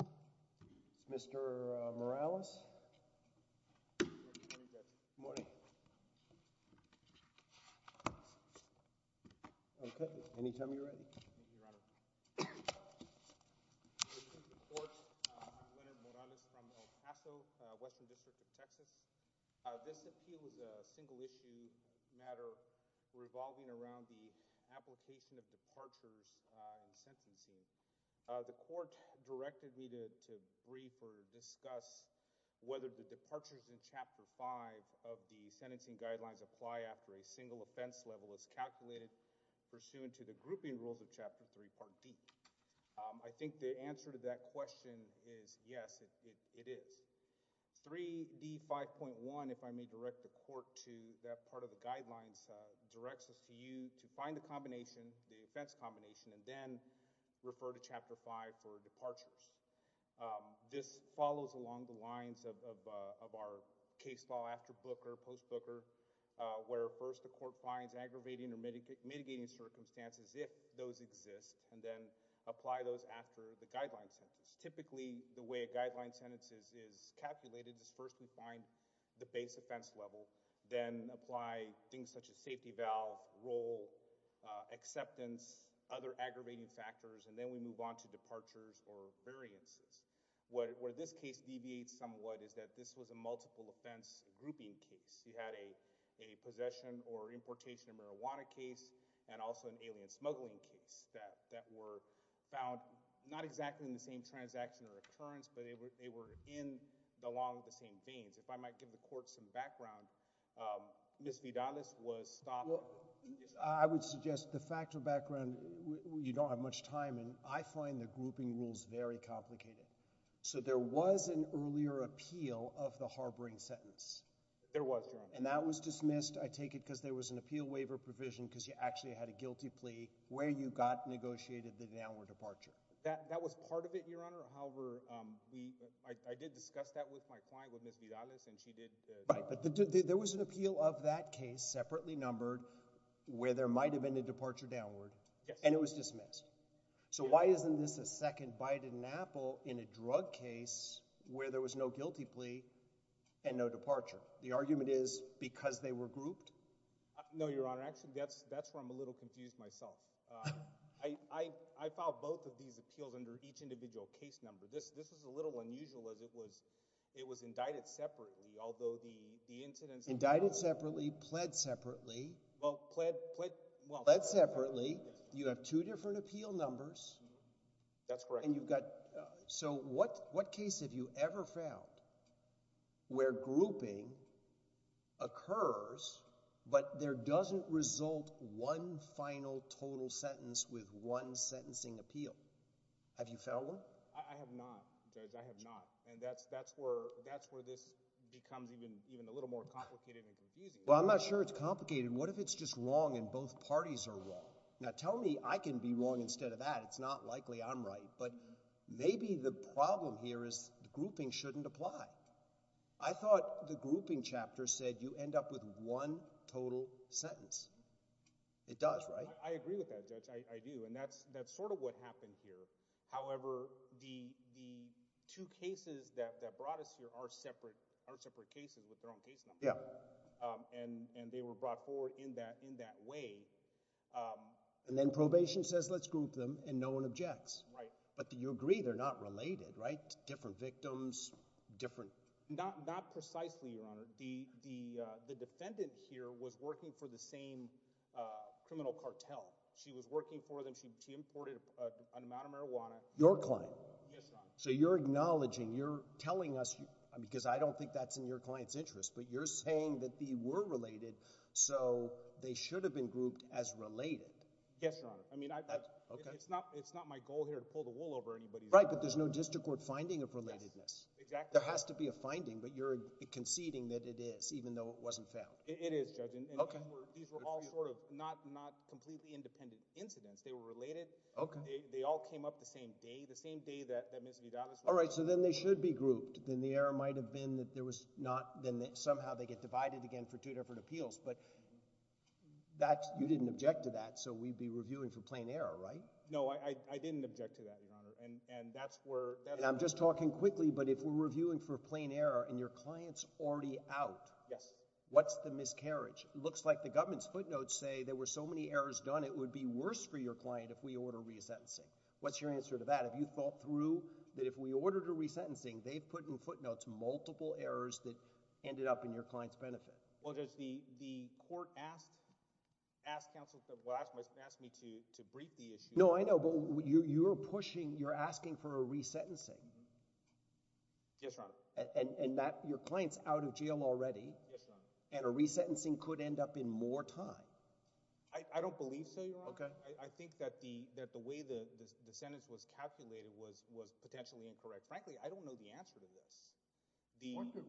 I'm Leonard Morales from El Paso, Western District of Texas. This appeal is a single-issue matter revolving around the application of departures and sentencing. The court directed me to brief or discuss whether the departures in Chapter 5 of the sentencing guidelines apply after a single offense level is calculated pursuant to the grouping rules of Chapter 3, Part D. I think the answer to that question is yes, it is. 3D5.1, if I may direct the court to that part of the guidelines, directs us to you to find the combination, the offense combination, and then refer to Chapter 5 for departures. This follows along the lines of our case law after Booker, post Booker, where first the court finds aggravating or mitigating circumstances, if those exist, and then apply those after the guideline sentences. Typically, the way a guideline sentence is calculated is first we find the base offense level, then apply things such as safety valve, role, acceptance, other aggravating factors, and then we move on to departures or variances. Where this case deviates somewhat is that this was a multiple offense grouping case. You had a possession or importation of marijuana case and also an alien smuggling case that were found not exactly in the same transaction or occurrence, but they were in along the same veins. If I might give the court some background, Ms. Vidalis was stopped. I would suggest the factual background, you don't have much time, and I find the grouping rules very complicated. So there was an earlier appeal of the harboring sentence. There was, Your Honor. And that was dismissed, I take it, because there was an appeal waiver provision because you actually had a guilty plea where you got negotiated the downward I did discuss that with my client, with Ms. Vidalis, and she did. Right, but there was an appeal of that case, separately numbered, where there might have been a departure downward, and it was dismissed. So why isn't this a second bite in an apple in a drug case where there was no guilty plea and no departure? The argument is because they were grouped? No, Your Honor. Actually, that's where I'm a little confused myself. I filed both of these appeals under each individual case number. This is a little unusual, as it was indicted separately, although the incidents... Indicted separately, pled separately. Well, pled, well... Pled separately, you have two different appeal numbers. That's correct. And you've got... So what case have you ever found where grouping occurs, but there doesn't result one final total sentence with one sentencing appeal? Have you found one? I have not, Judge. I have not. And that's where this becomes even a little more complicated and confusing. Well, I'm not sure it's complicated. What if it's just wrong and both parties are wrong? Now, tell me I can be wrong instead of that. It's not likely I'm right, but maybe the problem here is the grouping shouldn't apply. I thought the grouping chapter said you end up with one total sentence. It does, right? I agree with that, Judge. I do, and that's sort of what happened here. However, the two cases that brought us here are separate cases with their own case number, and they were brought forward in that way. And then probation says, let's group them, and no one objects. Right. But you agree they're not related, right? Different victims, different... Not precisely, Your Honor. The defendant here was working for the same criminal cartel. She was working for them. She imported an amount of marijuana. Your client? Yes, Your Honor. So you're acknowledging, you're telling us, because I don't think that's in your client's interest, but you're saying that they were related, so they should have been grouped as related. Yes, Your Honor. I mean, it's not my goal here to pull the wool over anybody's eyes. Right, but there's no district court finding of relatedness. Yes, exactly. There has to be a finding, but you're conceding that it is, Judge. Okay. These were all sort of not completely independent incidents. They were related. Okay. They all came up the same day, the same day that Ms. Vidal was... All right, so then they should be grouped. Then the error might have been that somehow they get divided again for two different appeals, but you didn't object to that, so we'd be reviewing for plain error, right? No, I didn't object to that, Your Honor, and that's where... And I'm just talking quickly, but if we're It looks like the government's footnotes say there were so many errors done it would be worse for your client if we order resentencing. What's your answer to that? Have you thought through that if we ordered a resentencing, they've put in footnotes multiple errors that ended up in your client's benefit? Well, Judge, the court asked counsel to ask me to brief the issue. No, I know, but you're pushing, you're asking for a resentencing. Yes, Your Honor. And your client's out of jail already. Yes, Your Honor. And a resentencing could end up in more time. I don't believe so, Your Honor. Okay. I think that the way the sentence was calculated was potentially incorrect. Frankly, I don't know the answer to this.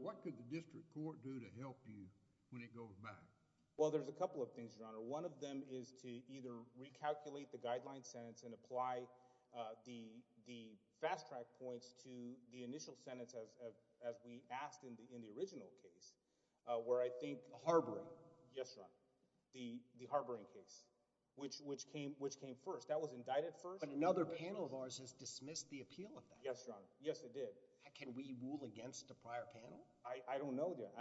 What could the district court do to help you when it goes back? Well, there's a couple of things, Your Honor. One of them is to either recalculate the guideline sentence and apply the fast track points to the initial sentence as we asked in the original case, where I think— The harboring. Yes, Your Honor. The harboring case, which came first. That was indicted first. But another panel of ours has dismissed the appeal of that. Yes, Your Honor. Yes, it did. Can we rule against a prior panel? I don't know that,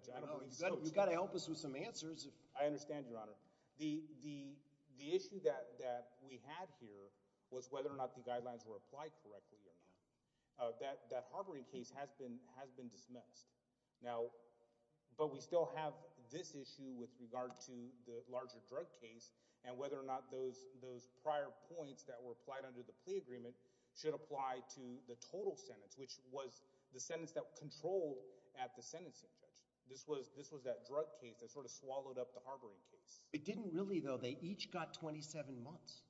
Judge. I don't know. You've got to help us with some answers. I understand, Your Honor. The issue that we had here was whether or not the guidelines were applied correctly or not. That harboring case has been dismissed. But we still have this issue with regard to the larger drug case and whether or not those prior points that were applied under the plea agreement should apply to the total sentence, which was the sentence that controlled at the sentencing, Judge. This was that drug case that sort of swallowed up the harboring case. It didn't really, though. They each got 27 months.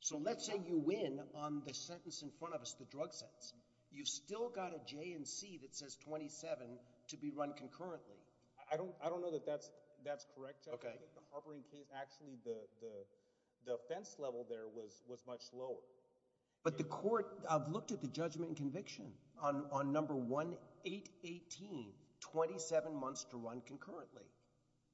So, let's say you win on the sentence in front of us, the drug sentence. You've still got a J&C that says 27 to be run concurrently. I don't know that that's correct, Judge. I think the harboring case, actually, the offense level there was much lower. But the court—I've looked at the judgment and conviction on number 1, 818, 27 months to run concurrently.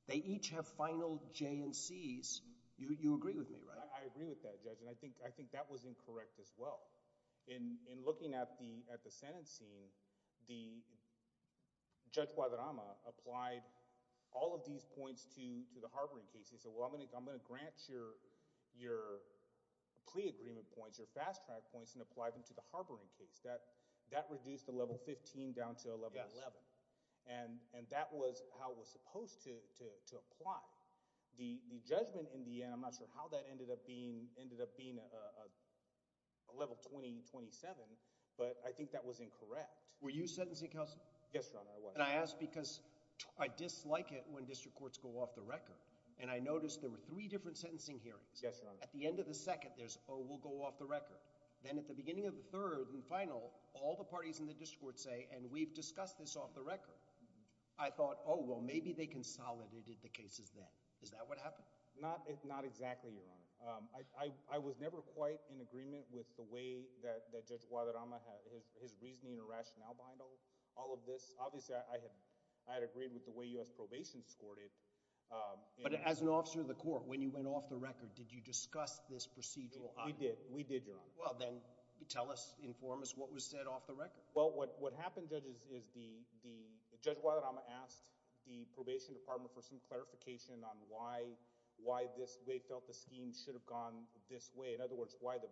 They each have final J&Cs. You agree with me, right? I agree with that, Judge, and I think that was incorrect as well. In looking at the sentencing, the Judge Guadarrama applied all of these points to the harboring case. He said, well, I'm going to grant your plea agreement points, your fast-track points, and apply them to the harboring case. That reduced the level 15 down to a level 11. And that was how it was supposed to apply. The judgment in the end, I'm not sure how that ended up being a level 20, 27, but I think that was incorrect. Were you sentencing counsel? Yes, Your Honor, I was. And I ask because I dislike it when district courts go off the record. And I noticed there were three different sentencing hearings. Yes, Your Honor. At the end of the second, there's, oh, we'll go off the record. Then at the beginning of the third and final, all the parties in the district court say, and we've discussed this off the record. I thought, oh, well, maybe they consolidated the cases then. Is that what happened? Not exactly, Your Honor. I was never quite in agreement with the way that Judge Guadarrama had, his reasoning or rationale behind all of this. Obviously, I had agreed with the way U.S. probation scored it. But as an officer of the court, when you went off the record, did you discuss this procedural item? We did. We did, Your Honor. Well, then tell us, inform us what was said off the record. Well, what happened, Judge, is the Judge Guadarrama asked the probation department for some clarification on why they felt the scheme should have gone this way. In other words, why the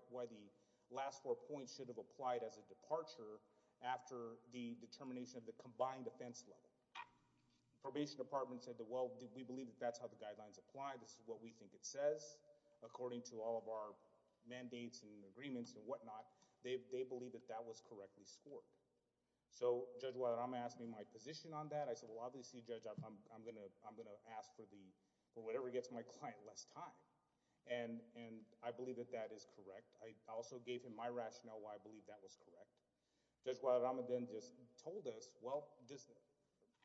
last four points should have applied as a departure after the determination of the combined offense level. The probation department said, well, we believe that's how the guidelines apply. This is what we think it says. According to all of our mandates and agreements and whatnot, they believe that that was correctly scored. So Judge Guadarrama asked me my position on that. I said, well, obviously, Judge, I'm going to ask for whatever gets my client less time. And I believe that that is correct. I also gave him my rationale why I believe that was correct. Judge Guadarrama then just told us, this is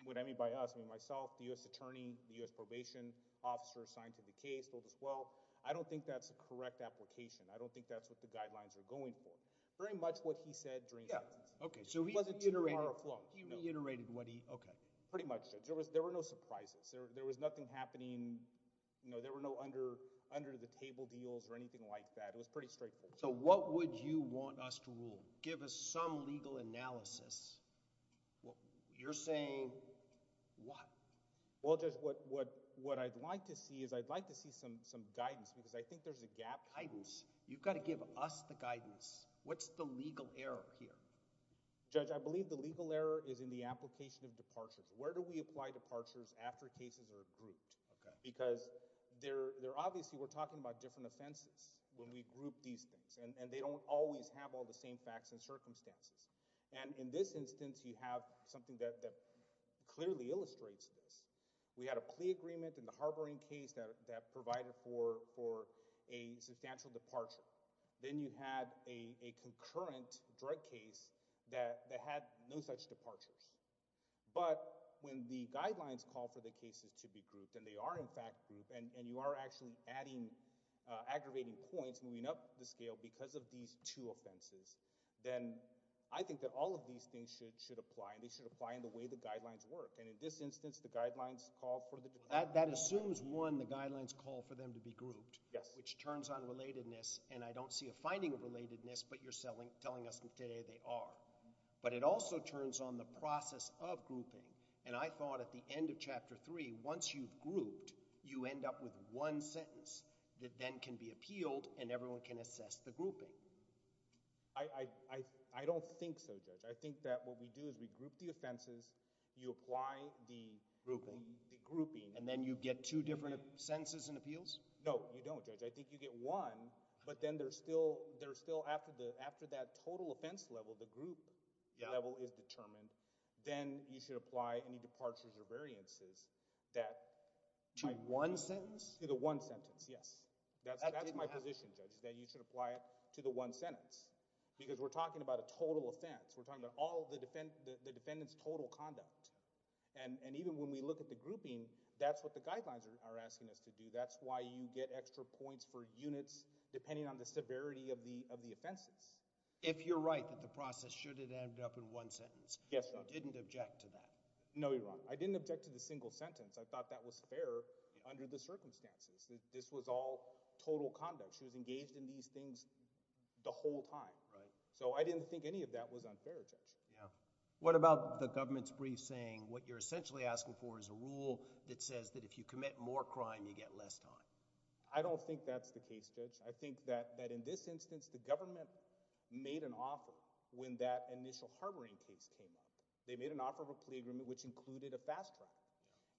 what I mean by us. Myself, the U.S. attorney, the U.S. probation officer assigned to the case told us, well, I don't think that's a correct application. I don't think that's what the guidelines are going for. Very much what he said drained us. It wasn't too far afloat. He reiterated what he, okay. Pretty much, Judge. There were no surprises. There was nothing happening. There were no under-the-table deals or anything like that. It was pretty straightforward. So what would you want us to rule? Give us some legal analysis. You're saying what? Well, Judge, what I'd like to see is I'd like to see some guidance because I think there's a gap. Guidance? You've got to give us the guidance. What's the legal error here? Judge, I believe the legal error is in the application of departures. Where do we apply departures after cases are grouped? Because they're obviously, we're talking about different and they don't always have all the same facts and circumstances. And in this instance, you have something that clearly illustrates this. We had a plea agreement in the harboring case that provided for a substantial departure. Then you had a concurrent drug case that had no such departures. But when the guidelines call for the cases to be grouped and they are in fact grouped and you are actually adding aggravating points, moving up the scale because of these two offenses, then I think that all of these things should apply and they should apply in the way the guidelines work. And in this instance, the guidelines call for the departures. That assumes one, the guidelines call for them to be grouped, which turns on relatedness. And I don't see a finding of relatedness, but you're telling us today they are. But it also turns on the process of grouping. And I thought at the end of Chapter 3, once you've grouped, you end up with one sentence that then can be appealed and everyone can assess the grouping. I, I, I, I don't think so, Judge. I think that what we do is we group the offenses, you apply the grouping, the grouping, and then you get two different sentences and appeals. No, you don't judge. I think you get one, but then there's still, there's still after the, after that total offense level, the group level is determined. Then you should apply any departures or variances that. To one sentence? To the one sentence, yes. That's, that's my position, Judge, that you should apply it to the one sentence. Because we're talking about a total offense. We're talking about all the defendant, the defendant's total conduct. And, and even when we look at the grouping, that's what the guidelines are asking us to do. That's why you get extra points for units depending on the severity of the, of the offenses. If you're right that the process should have ended up in one sentence. Yes, Judge. Didn't object to that. No, you're wrong. I didn't object to the single sentence. I thought that was fair under the circumstances. This was all total conduct. She was engaged in these things the whole time. Right. So I didn't think any of that was unfair, Judge. Yeah. What about the government's brief saying what you're essentially asking for is a rule that says that if you commit more crime, you get less time? I don't think that's the case, Judge. I think that, that in this instance, the government made an offer when that initial harboring case came up. They made an offer of a plea agreement which included a fast track.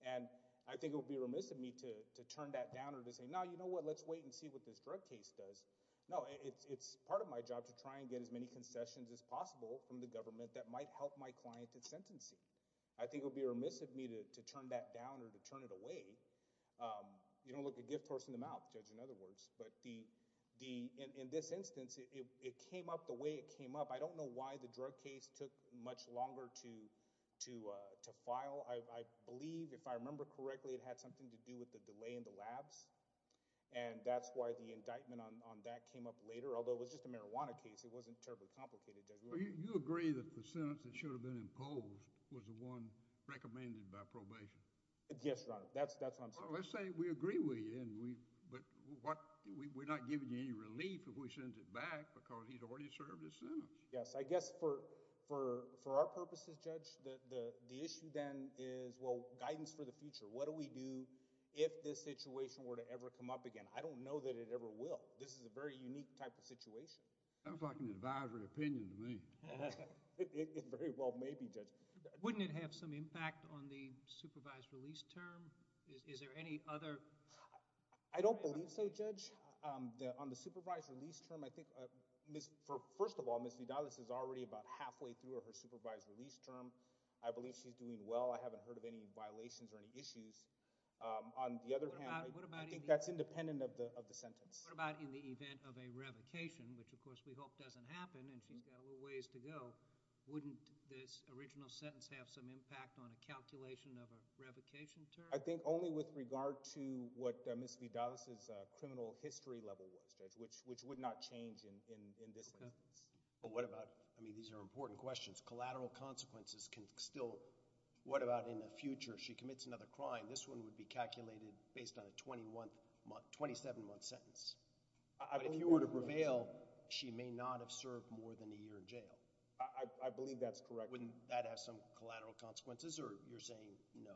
And I think it would be remiss of me to, to turn that down or to say, no, you know what, let's wait and see what this drug case does. No, it's, it's part of my job to try and get as many concessions as possible from the government that might help my client at sentencing. I think it would be remiss of me to, to turn that down or to turn it away. You don't look a gift horse in the mouth, Judge, in other words. But the, the, in, in this instance, it, it came up the way it came up. I don't know why the drug case took much longer to, to, to file. I, I believe, if I remember correctly, it had something to do with the delay in the labs. And that's why the indictment on, on that came up later, although it was just a marijuana case. It wasn't terribly complicated, Judge. You agree that the sentence that should have been imposed was the one recommended by probation? Yes, Your Honor. That's, that's what I'm saying. Well, let's say we agree with you and we, but what, we, we're not giving you any relief if we send it back because he's already served his sentence. Yes, I guess for, for, for our purposes, Judge, the, the, the issue then is, well, guidance for the future. What do we do if this situation were to ever come up again? I don't know that it ever will. This is a very unique type of situation. Sounds like an advisory opinion to me. Very well, maybe, Judge. Wouldn't it have some impact on the supervised release term? Is, is there any other? I don't believe so, Judge. The, on the supervised release term, I think, Ms., for, first of all, Ms. Vidalis is already about halfway through her supervised release term. I believe she's doing well. I haven't heard of any violations or any issues. On the other hand, I think that's independent of the, of the sentence. What about in the event of a revocation, which, of course, we hope doesn't happen, and she's got a little ways to go, wouldn't this original sentence have some impact on a calculation of a revocation term? I think only with regard to what Ms. Vidalis' criminal history level was, Judge, which, which would not change in, in, in this instance. But what about, I mean, these are important questions. Collateral consequences can still, what about in the future? She commits another crime. This one would be calculated based on a 27-month sentence. But if you were to prevail, she may not have served more than a year in jail. I, I believe that's correct. Wouldn't that have some collateral consequences, or you're saying no?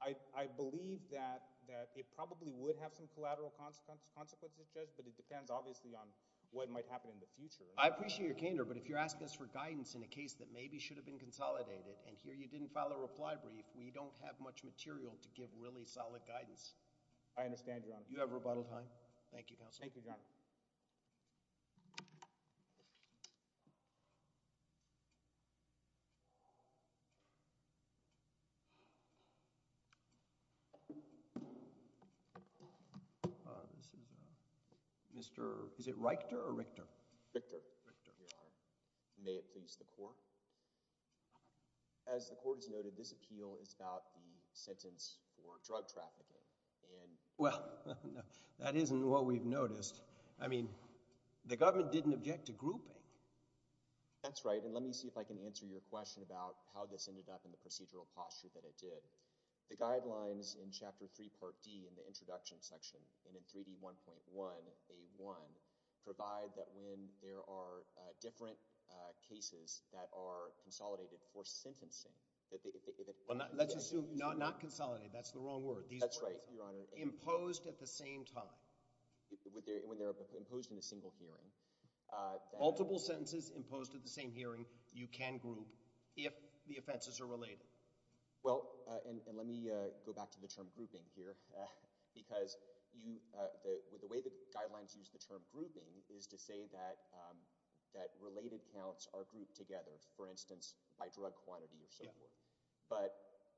I, I believe that, that it probably would have some collateral consequences, consequences, Judge, but it depends, obviously, on what might happen in the future. I appreciate your candor, but if you're asking us for guidance in a case that maybe should have been consolidated, and here you didn't file a reply brief, we don't have much material to You have rebuttal time. Thank you, Counselor. Thank you, Your Honor. Uh, this is, uh, Mr., is it Reichter or Richter? Richter. Richter. Here I am. May it please the Court. As the Court has noted, this appeal is about the sentence for drug trafficking, and Well, no, that isn't what we've noticed. I mean, the government didn't object to grouping. That's right, and let me see if I can answer your question about how this ended up in the procedural posture that it did. The guidelines in Chapter 3, Part D, in the introduction section, and in 3D1.1A1, provide that when there are, uh, different, uh, cases that are consolidated for sentencing, that they, that Well, not, let's assume not, not consolidated. That's the wrong word. That's right, Your Honor. Imposed at the same time. When they're imposed in a single hearing, uh, that Multiple sentences imposed at the same hearing, you can group if the offenses are related. Well, uh, and, and let me, uh, go back to the term grouping here, uh, because you, uh, the, with the way the guidelines use the term grouping is to say that, um, that related counts are grouped together, for instance, by drug quantity or so forth. But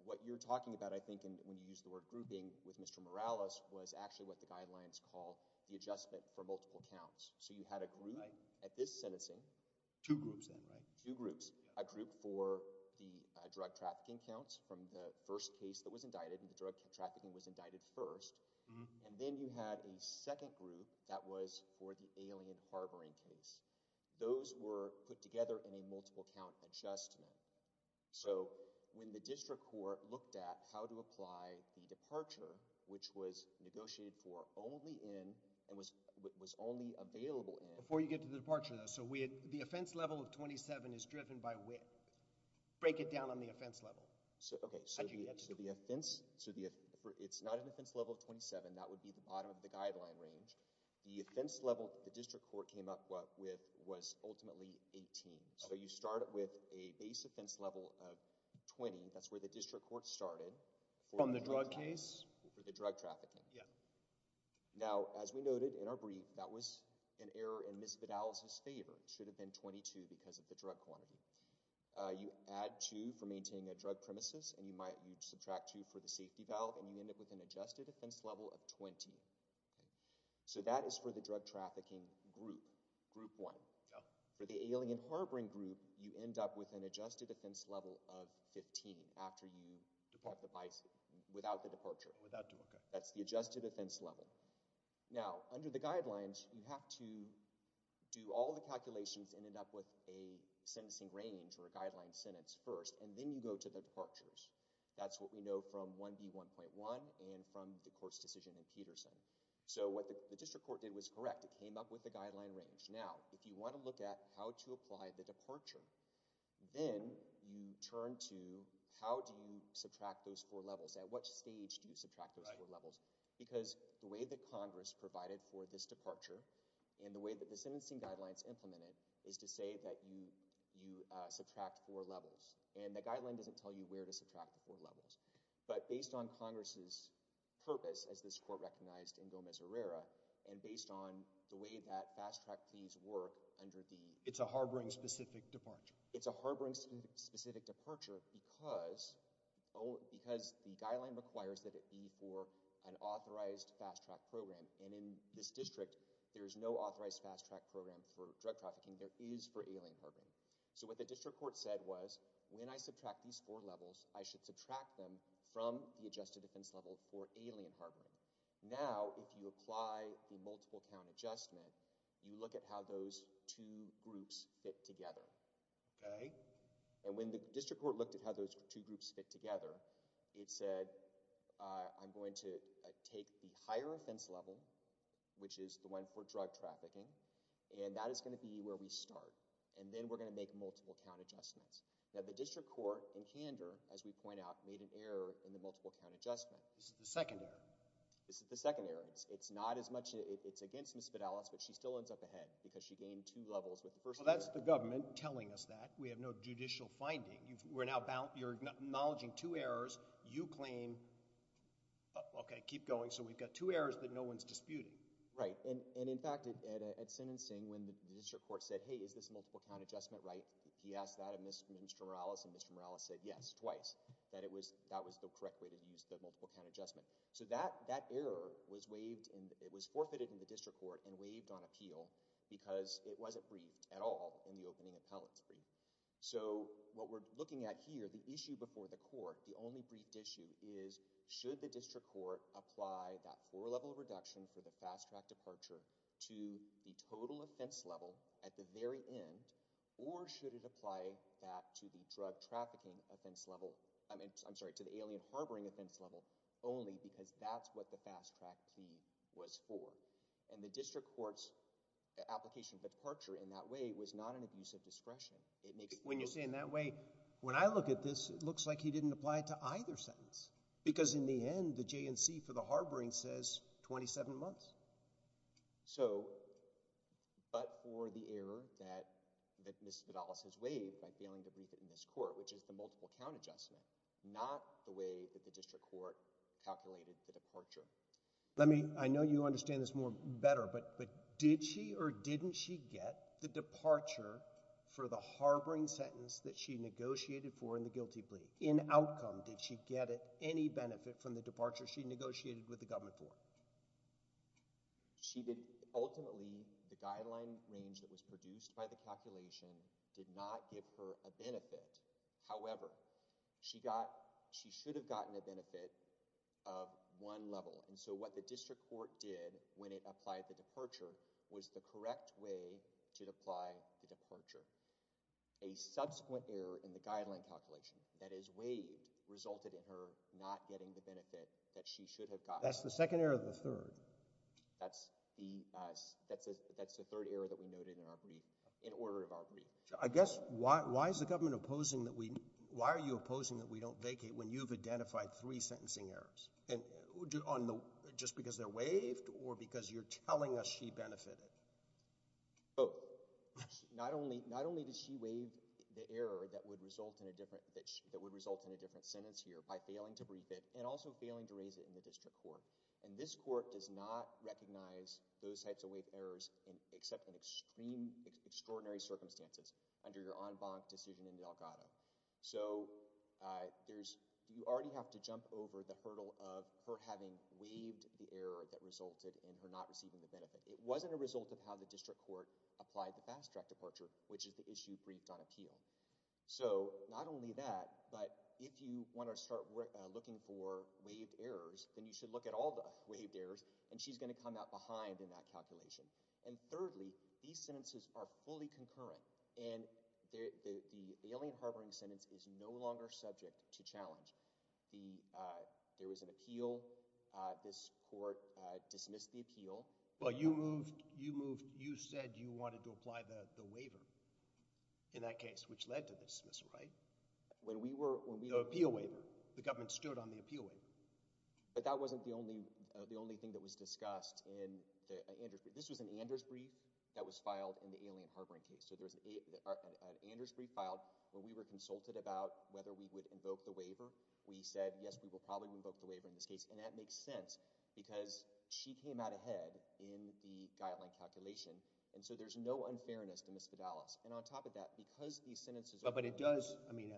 what you're talking about, I think, and when you use the word grouping with Mr. Morales, was actually what the guidelines call the adjustment for multiple counts. So you had a group at this sentencing. Two groups then, right? Two groups. A group for the, uh, drug trafficking counts from the first case that was indicted, and the drug trafficking was indicted first, and then you had a second group that was for the alien harboring case. Those were put together in a multiple count adjustment. So, when the district court looked at how to apply the departure, which was negotiated for only in, and was, was only available in... Before you get to the departure though, so we had, the offense level of twenty-seven is driven by when? Break it down on the offense level. So, okay, so the offense, so the, for, it's not an offense level of twenty-seven. That would be the bottom of the guideline range. The offense level the district court came up with was ultimately eighteen. So, you start with a base offense level of twenty. That's where the district court started. From the drug case? For the drug trafficking. Yeah. Now, as we noted in our brief, that was an error in Ms. Vidal's favor. It should have been twenty-two because of the drug quantity. You add two for maintaining a drug premises, and you might, you subtract two for the safety valve, and you end up with an adjusted offense level of twenty. So, that is for the drug trafficking group. Group one. For the alien harboring group, you end up with an adjusted offense level of fifteen after you depart the, without the departure. Without, okay. That's the adjusted offense level. Now, under the guidelines, you have to do all the calculations and end up with a sentencing range or a guideline sentence first, and then you go to the departures. That's what we know from 1B1.1 and from the court's decision in Peterson. So, what the district court did was correct. It came up with the guideline range. Now, if you want to look at how to apply the departure, then you turn to how do you subtract those four levels? At what stage do you subtract those four levels? Because the way that Congress provided for this departure and the way that the sentencing guidelines implemented is to say that you, you subtract four levels, and the guideline doesn't tell you where to subtract the four levels. But based on Congress's purpose, as this court recognized in Gomez-Herrera, and based on the way that fast-track fees work under the— It's a harboring-specific departure. It's a harboring-specific departure because the guideline requires that it be for an authorized fast-track program, and in this district, there is no authorized fast-track program for drug trafficking. There is for alien harboring. So, what the district court said was, when I subtract these four levels, I should subtract them from the adjusted offense level for alien harboring. Now, if you apply the multiple count adjustment, you look at how those two groups fit together. Okay. And when the district court looked at how those two groups fit together, it said, I'm going to take the higher offense level, which is the one for drug trafficking, and that is going to be where we start, and then we're going to make multiple count adjustments. Now, the district court in Kander, as we point out, made an error in the multiple count adjustment. This is the second error? This is the second error. It's not as much—it's against Ms. Vidalas, but she still ends up ahead because she gained two levels with the first— Well, that's the government telling us that. We have no judicial finding. We're now—you're acknowledging two errors. You claim—okay, keep going. So, we've got two errors that no one's disputing. Right, and in fact, at sentencing, when the district court said, hey, is this a multiple count adjustment, right? He asked that of Mr. Morales, and Mr. Morales said yes, twice, that it was—that was the multiple count adjustment. So, that error was waived, and it was forfeited in the district court and waived on appeal because it wasn't briefed at all in the opening appellate three. So, what we're looking at here, the issue before the court, the only briefed issue is should the district court apply that four-level reduction for the fast-track departure to the total offense level at the very end, or should it apply that to the drug trafficking offense level—I'm sorry, to the alien harboring offense level only because that's what the fast-track P was for. And the district court's application for departure in that way was not an abuse of discretion. It makes— When you're saying that way, when I look at this, it looks like he didn't apply it to either sentence because, in the end, the J&C for the harboring says 27 months. So, but for the error that Mr. Morales has waived by failing to brief it in this court, which is the multiple count adjustment, not the way that the district court calculated the departure. Let me—I know you understand this more better, but did she or didn't she get the departure for the harboring sentence that she negotiated for in the guilty plea? In outcome, did she get any benefit from the departure she negotiated with the government for? She did—ultimately, the guideline range that was produced by the calculation did not give her a benefit. However, she got—she should have gotten a benefit of one level. And so what the district court did when it applied the departure was the correct way to apply the departure. A subsequent error in the guideline calculation that is waived resulted in her not getting the benefit that she should have gotten. That's the second error or the third? That's the—that's the third error that we noted in our brief—in order of our brief. I guess why—why is the government opposing that we—why are you opposing that we don't vacate when you've identified three sentencing errors? And on the—just because they're waived or because you're telling us she benefited? Both. Not only—not only did she waive the error that would result in a different—that would result in a different sentence here by failing to brief it and also failing to raise it in the district court. And this court does not recognize those types of waived errors except in extreme—extraordinary circumstances under your en banc decision in Delgado. So, there's—you already have to jump over the hurdle of her having waived the error that resulted in her not receiving the benefit. It wasn't a result of how the district court applied the fast track departure, which is the issue briefed on appeal. So, not only that, but if you want to start looking for waived errors, then you should look at all the waived errors, and she's going to come out behind in that calculation. And thirdly, these sentences are fully concurrent, and the alien harboring sentence is no longer subject to challenge. The—there was an appeal. This court dismissed the appeal. Well, you moved—you moved—you said you wanted to apply the waiver in that case, which led to the dismissal, right? When we were— The appeal waiver. The government stood on the appeal waiver. But that wasn't the only—the only thing that was discussed in the Andrews brief. This was an Anders brief that was filed in the alien harboring case. So, there's an Anders brief filed where we were consulted about whether we would invoke the waiver. We said, yes, we will probably invoke the waiver in this case, and that makes sense because she came out ahead in the guideline calculation, and so there's no unfairness to Ms. Fidelis. And on top of that, because these sentences are— But it does—I mean,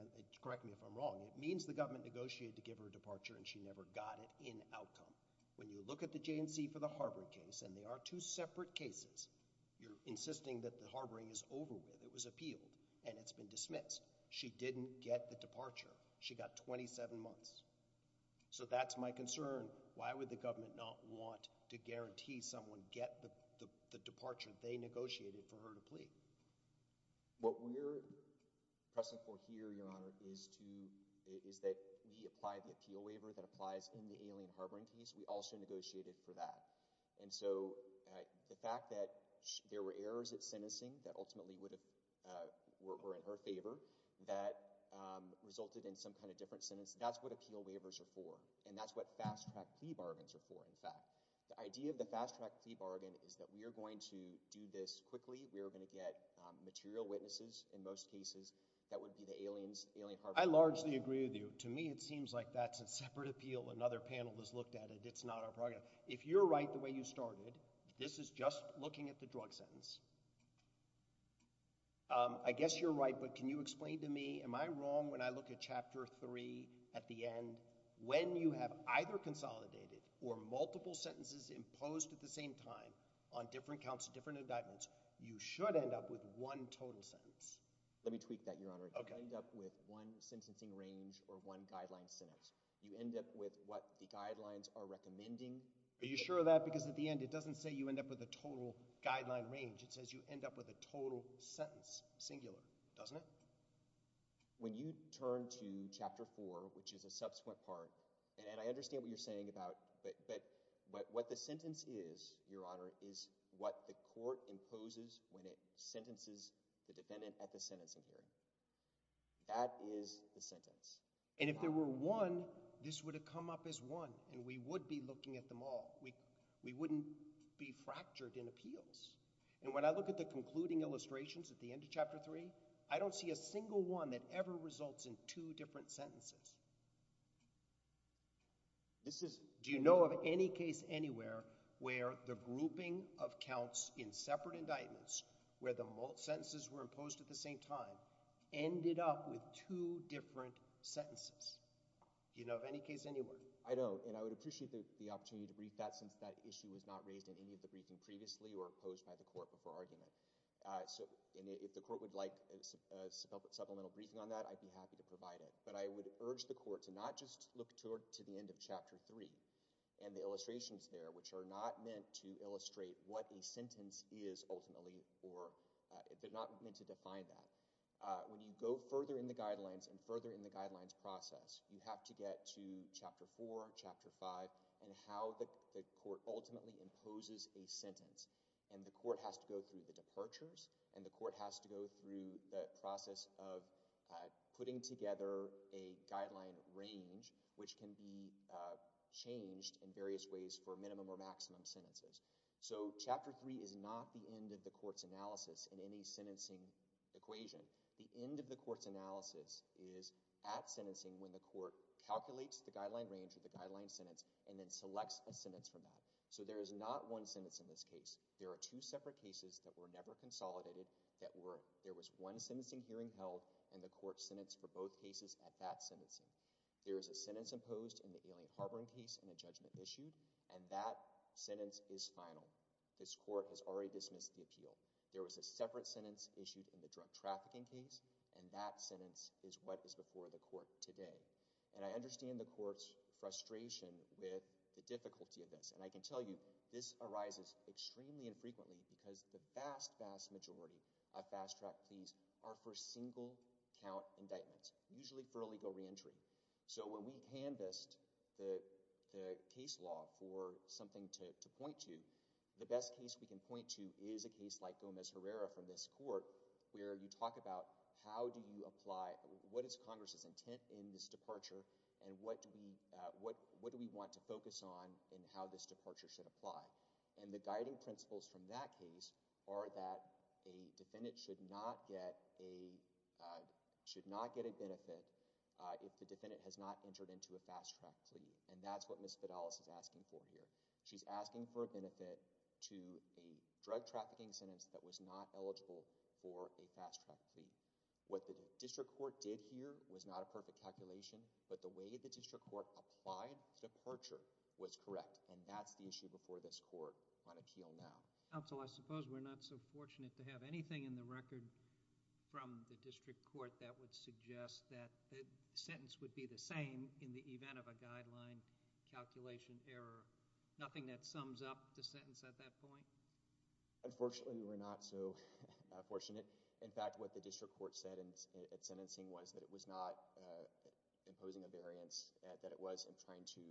correct me if I'm wrong. It means the government negotiated to give her a departure, and she never got it in outcome. When you look at the J&C for the harboring case, and they are two separate cases, you're insisting that the harboring is over with. It was appealed, and it's been dismissed. She didn't get the departure. She got 27 months. So, that's my concern. Why would the government not want to guarantee someone get the departure they negotiated for her to plead? What we're pressing for here, Your Honor, is to—is that we apply the appeal waiver that applies in the Alien Harboring case. We also negotiated for that, and so the fact that there were errors at sentencing that ultimately would have—were in her favor that resulted in some kind of different sentence, that's what appeal waivers are for, and that's what fast-track plea bargains are for, in fact. The idea of the fast-track plea bargain is that we are going to do this quickly. We are going to get material witnesses. In most cases, that would be the aliens, Alien Harboring— I largely agree with you. To me, it seems like that's a separate appeal. Another panel has looked at it. It's not our problem. If you're right the way you started, this is just looking at the drug sentence. I guess you're right, but can you explain to me, am I wrong when I look at Chapter 3 at the end? When you have either consolidated or multiple sentences imposed at the same time on different counts, different indictments, you should end up with one total sentence. Let me tweak that, Your Honor. You end up with one sentencing range or one guideline sentence. You end up with what the guidelines are recommending. Are you sure of that? Because at the end, it doesn't say you end up with a total guideline range. It says you end up with a total sentence, singular, doesn't it? When you turn to Chapter 4, which is a subsequent part—and I understand what you're saying about—but what the sentence is, Your Honor, is what the court imposes when it That is the sentence. And if there were one, this would have come up as one, and we would be looking at them all. We wouldn't be fractured in appeals. And when I look at the concluding illustrations at the end of Chapter 3, I don't see a single one that ever results in two different sentences. This is— Do you know of any case anywhere where the grouping of counts in separate indictments, where the sentences were imposed at the same time, ended up with two different sentences? Do you know of any case anywhere? I don't, and I would appreciate the opportunity to brief that since that issue was not raised in any of the briefing previously or posed by the court before argument. So if the court would like a supplemental briefing on that, I'd be happy to provide it. But I would urge the court to not just look to the end of Chapter 3 and the illustrations there, which are not meant to illustrate what a sentence is ultimately, or they're not meant to define that. When you go further in the guidelines and further in the guidelines process, you have to get to Chapter 4, Chapter 5, and how the court ultimately imposes a sentence. And the court has to go through the departures, and the court has to go through the process of putting together a guideline range, which can be changed in various ways for minimum or maximum sentences. So Chapter 3 is not the end of the court's analysis in any sentencing equation. The end of the court's analysis is at sentencing when the court calculates the guideline range of the guideline sentence and then selects a sentence from that. So there is not one sentence in this case. There are two separate cases that were never consolidated that were. There was one sentencing hearing held, and the court sentenced for both cases at that sentencing. There is a sentence imposed in the Alien Harboring case and a judgment issued, and that sentence is final. This court has already dismissed the appeal. There was a separate sentence issued in the drug trafficking case, and that sentence is what is before the court today. And I understand the court's frustration with the difficulty of this. And I can tell you, this arises extremely infrequently because the vast, vast majority of fast-track cases are for single-count indictments, usually for illegal reentry. So when we canvassed the case law for something to point to, the best case we can point to is a case like Gomez-Herrera from this court where you talk about how do you apply, what is Congress's intent in this departure, and what do we want to focus on and how this departure should apply. And the guiding principles from that case are that a defendant should not get a benefit if the defendant has not entered into a fast-track plea. And that's what Ms. Fidalis is asking for here. She's asking for a benefit to a drug trafficking sentence that was not eligible for a fast-track plea. What the district court did here was not a perfect calculation, but the way the district court applied the departure was correct. And that's the issue before this court on appeal now. Counsel, I suppose we're not so fortunate to have anything in the record from the district court that would suggest that the sentence would be the same in the event of a guideline calculation error. Nothing that sums up the sentence at that point? Unfortunately, we're not so fortunate. In fact, what the district court said in its sentencing was that it was not imposing a guideline calculation error, that it was trying to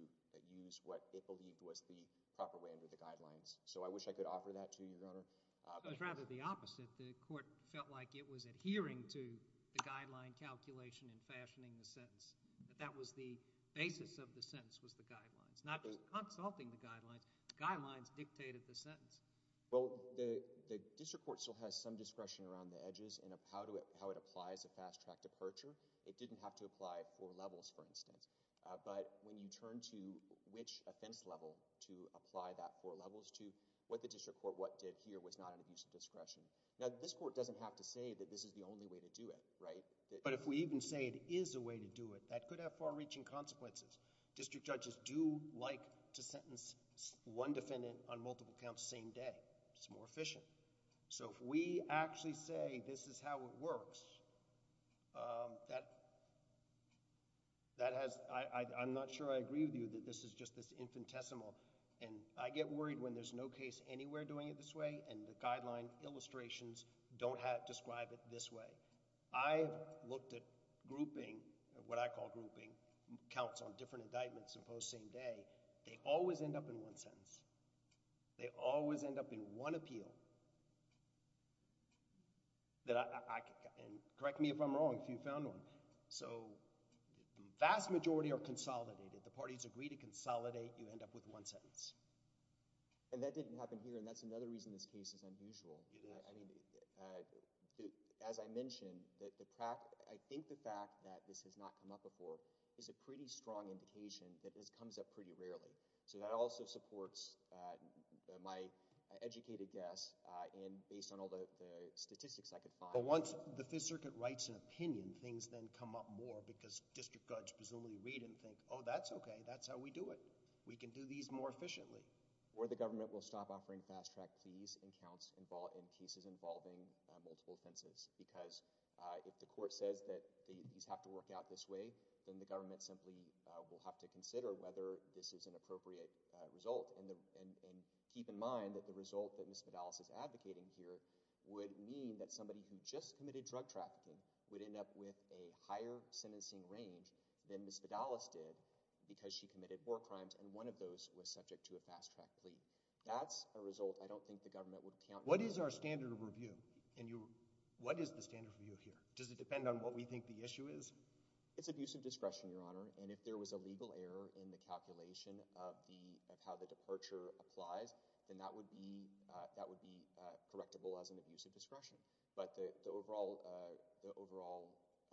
use what it believed was the proper way under the guidelines. So I wish I could offer that to you, Your Honor. It was rather the opposite. The court felt like it was adhering to the guideline calculation and fashioning the sentence, that that was the basis of the sentence was the guidelines, not just consulting the guidelines. The guidelines dictated the sentence. Well, the district court still has some discretion around the edges and how it applies a fast-track departure. It didn't have to apply four levels, for instance. But when you turn to which offense level to apply that four levels to, what the district court what did here was not an abuse of discretion. Now, this court doesn't have to say that this is the only way to do it, right? But if we even say it is a way to do it, that could have far-reaching consequences. District judges do like to sentence one defendant on multiple counts same day. It's more efficient. So if we actually say this is how it works, that has—I'm not sure I agree with you that this is just this infinitesimal. And I get worried when there's no case anywhere doing it this way and the guideline illustrations don't describe it this way. I've looked at grouping, what I call grouping, counts on different indictments imposed same day. They always end up in one sentence. They always end up in one appeal that I—and correct me if I'm wrong if you found one. So vast majority are consolidated. The parties agree to consolidate. You end up with one sentence. And that didn't happen here and that's another reason this case is unusual. As I mentioned, I think the fact that this has not come up before is a pretty strong indication that this comes up pretty rarely. So that also supports my educated guess and based on all the statistics I could find— But once the Fifth Circuit writes an opinion, things then come up more because district judge presumably read and think, oh, that's okay. That's how we do it. We can do these more efficiently. Or the government will stop offering fast-track fees and counts in cases involving multiple offenses because if the court says that these have to work out this way, then the government simply will have to consider whether this is an appropriate result and keep in mind that the result that Ms. Vidalis is advocating here would mean that somebody who just committed drug trafficking would end up with a higher sentencing range than Ms. Vidalis did because she committed four crimes and one of those was subject to a fast-track plea. That's a result I don't think the government would count— What is our standard of review? What is the standard of review here? Does it depend on what we think the issue is? It's abusive discretion, Your Honor, and if there was a legal error in the calculation of how the departure applies, then that would be correctable as an abusive discretion. But the overall—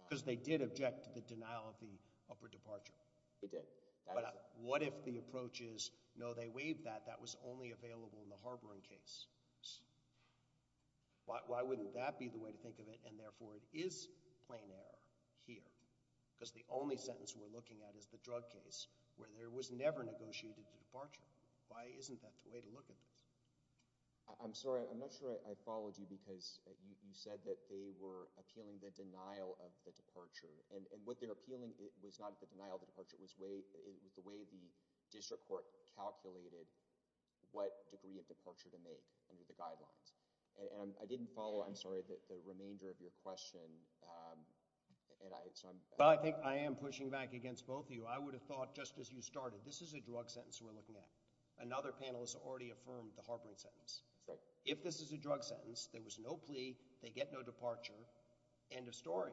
Because they did object to the denial of the upper departure. They did. What if the approach is, no, they waived that. That was only available in the harboring case. Why wouldn't that be the way to think of it? Therefore, it is plain error here because the only sentence we're looking at is the drug case where there was never negotiated a departure. Why isn't that the way to look at this? I'm sorry. I'm not sure I followed you because you said that they were appealing the denial of the departure and what they're appealing was not the denial of the departure. It was the way the district court calculated what degree of departure to make under the guidelines. I didn't follow, I'm sorry, the remainder of your question. I am pushing back against both of you. I would have thought, just as you started, this is a drug sentence we're looking at. Another panelist already affirmed the harboring sentence. If this is a drug sentence, there was no plea, they get no departure, end of story.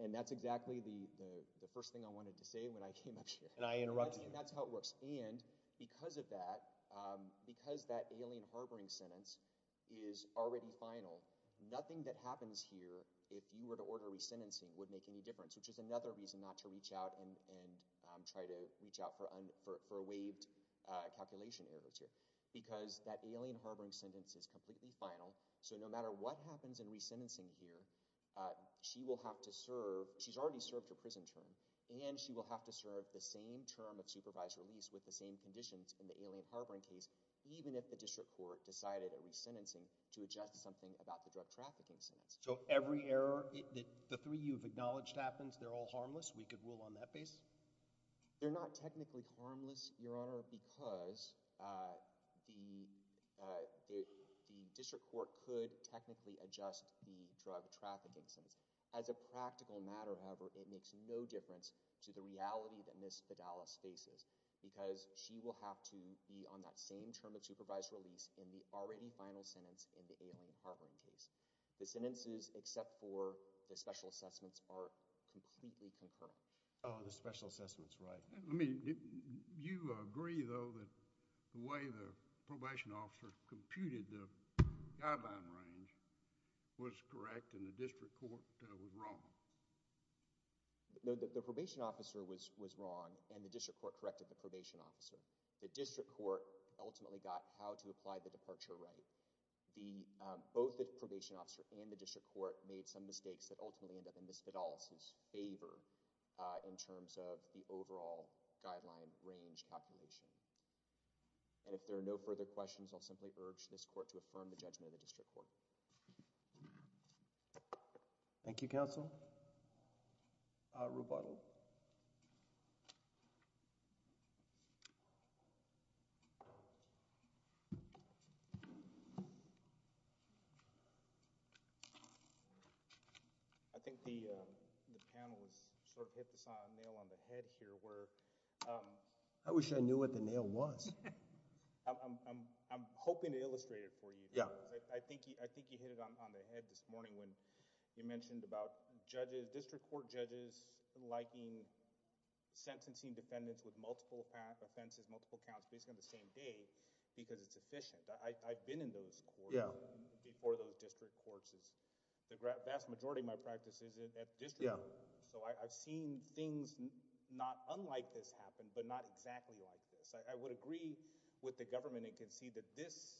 And that's exactly the first thing I wanted to say when I came up here. And I interrupted you. That's how it works. And because of that, because that alien harboring sentence is already final, nothing that happens here, if you were to order resentencing, would make any difference, which is another reason not to reach out and try to reach out for waived calculation errors here. Because that alien harboring sentence is completely final, so no matter what happens in resentencing here, she will have to serve, she's already served her prison term, and she will have to serve the same term of supervised release with the same conditions in the alien harboring case, even if the district court decided at resentencing to adjust something about the drug trafficking sentence. So every error that the three of you have acknowledged happens, they're all harmless? We could rule on that base? They're not technically harmless, Your Honor, because the district court could technically adjust the drug trafficking sentence. As a practical matter, however, it makes no difference to the reality that Ms. Fidalis faces, because she will have to be on that same term of supervised release in the already final sentence in the alien harboring case. The sentences except for the special assessments are completely concurrent. Oh, the special assessments, right. I mean, do you agree, though, that the way the probation officer computed the sentence was wrong? No, the probation officer was wrong, and the district court corrected the probation officer. The district court ultimately got how to apply the departure right. Both the probation officer and the district court made some mistakes that ultimately ended up in Ms. Fidalis' favor in terms of the overall guideline range calculation. And if there are no further questions, I'll simply urge this court to affirm the judgment of the district court. Thank you, counsel. I think the panel has sort of hit the nail on the head here. I wish I knew what the nail was. I'm hoping to illustrate it for you. I think you hit it on the head this morning when you mentioned about district court judges liking sentencing defendants with multiple offenses, multiple counts based on the same day, because it's efficient. I've been in those courts before those district courts. The vast majority of my practice is at district court, so I've seen things not unlike this happen, but not exactly like this. I would agree with the government. It can see that this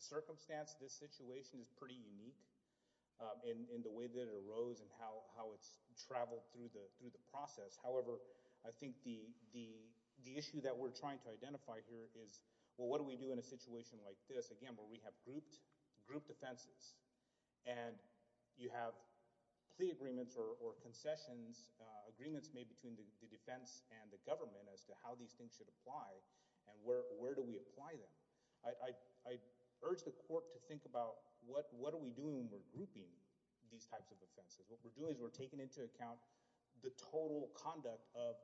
circumstance, this situation is pretty unique in the way that it arose and how it's traveled through the process. However, I think the issue that we're trying to identify here is, well, what do we do in a situation like this? Again, where we have grouped offenses and you have plea agreements or concessions, agreements made between the defense and the government as to how these things should apply and where do we apply them. I urge the court to think about what are we doing when we're grouping these types of offenses. What we're doing is we're taking into account the total conduct of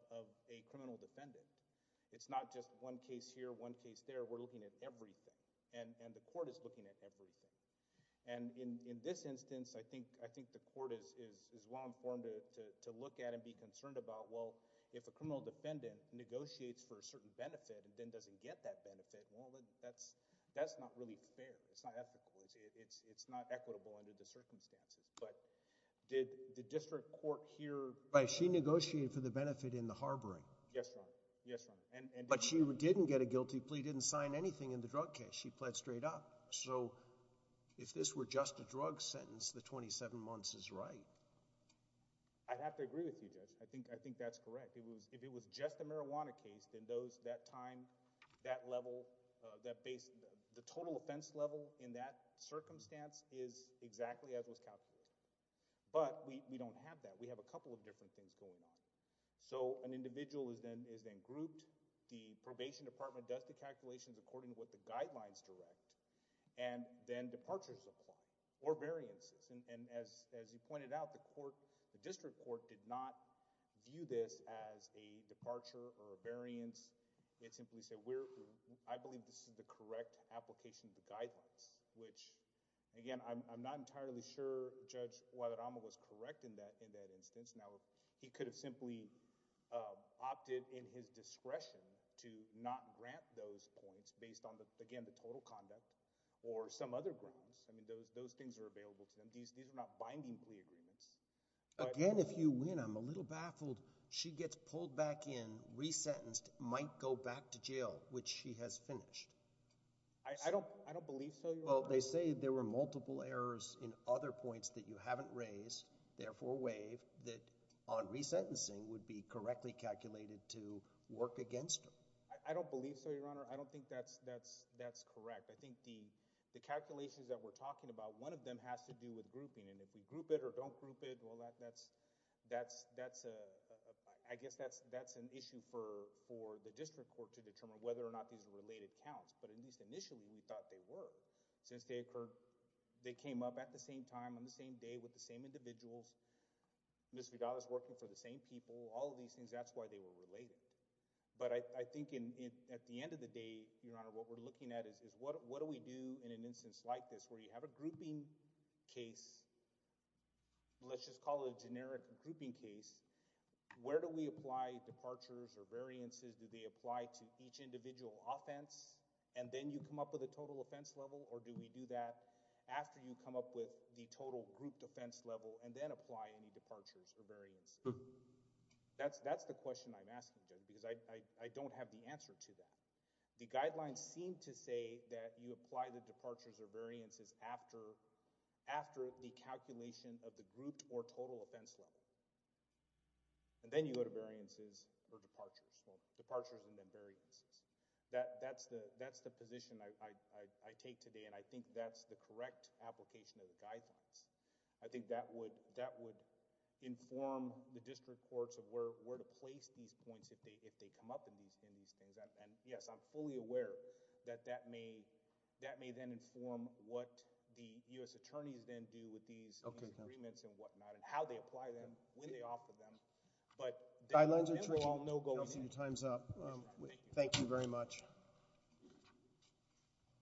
a criminal defendant. It's not just one case here, one case there. We're looking at everything, and the court is looking at everything. In this instance, I think the court is well-informed to look at and be able to say, well, there's a certain benefit and then doesn't get that benefit. Well, that's not really fair. It's not ethical. It's not equitable under the circumstances. But did the district court here... Right. She negotiated for the benefit in the harboring. Yes, Your Honor. Yes, Your Honor. But she didn't get a guilty plea, didn't sign anything in the drug case. She pled straight up. So if this were just a drug sentence, the 27 months is right. I'd have to agree with you, Judge. I think that's correct. If it was just a marijuana case, then that time, that level, the total offense level in that circumstance is exactly as was calculated. But we don't have that. We have a couple of different things going on. So an individual is then grouped. The probation department does the calculations according to what the guidelines direct, and then departures are brought, or variances. And as you pointed out, the district court did not view this as a departure or a variance. It simply said, I believe this is the correct application of the guidelines, which, again, I'm not entirely sure Judge Guadarrama was correct in that instance. Now, he could have simply opted in his discretion to not grant those points based on, again, the total conduct or some other grounds. I mean, those things are available to them. These are not binding plea agreements. But— Again, if you win, I'm a little baffled. She gets pulled back in, resentenced, might go back to jail, which she has finished. I don't believe so, Your Honor. Well, they say there were multiple errors in other points that you haven't raised, therefore waived, that on resentencing would be correctly calculated to work against her. I don't believe so, Your Honor. I don't think that's correct. I think the calculations that we're talking about, one of them has to do with grouping. And if we group it or don't group it, well, I guess that's an issue for the district court to determine whether or not these are related counts. But at least initially, we thought they were. Since they came up at the same time, on the same day, with the same individuals, Ms. Vidal is working for the same people, all of these things, that's why they were related. But I think at the end of the day, Your Honor, what we're looking at is, what do we do in an instance like this where you have a grouping case, let's just call it a generic grouping case, where do we apply departures or variances? Do they apply to each individual offense and then you come up with a total offense level? Or do we do that after you come up with the total group defense level and then apply any departures or variances? That's the question I'm asking, Judge, because I don't have the answer to that. The guidelines seem to say that you apply the departures or variances after the calculation of the group or total offense level. And then you go to variances or departures, well, departures and then variances. That's the position I take today and I think that's the correct application of the guidelines. I think that would inform the district courts of where to place these points if they come up in these things. And yes, I'm fully aware that that may then inform what the U.S. attorneys then do with these agreements and whatnot and how they apply them, when they offer them. But the guidelines are true all, no going in. Your time's up. Thank you very much.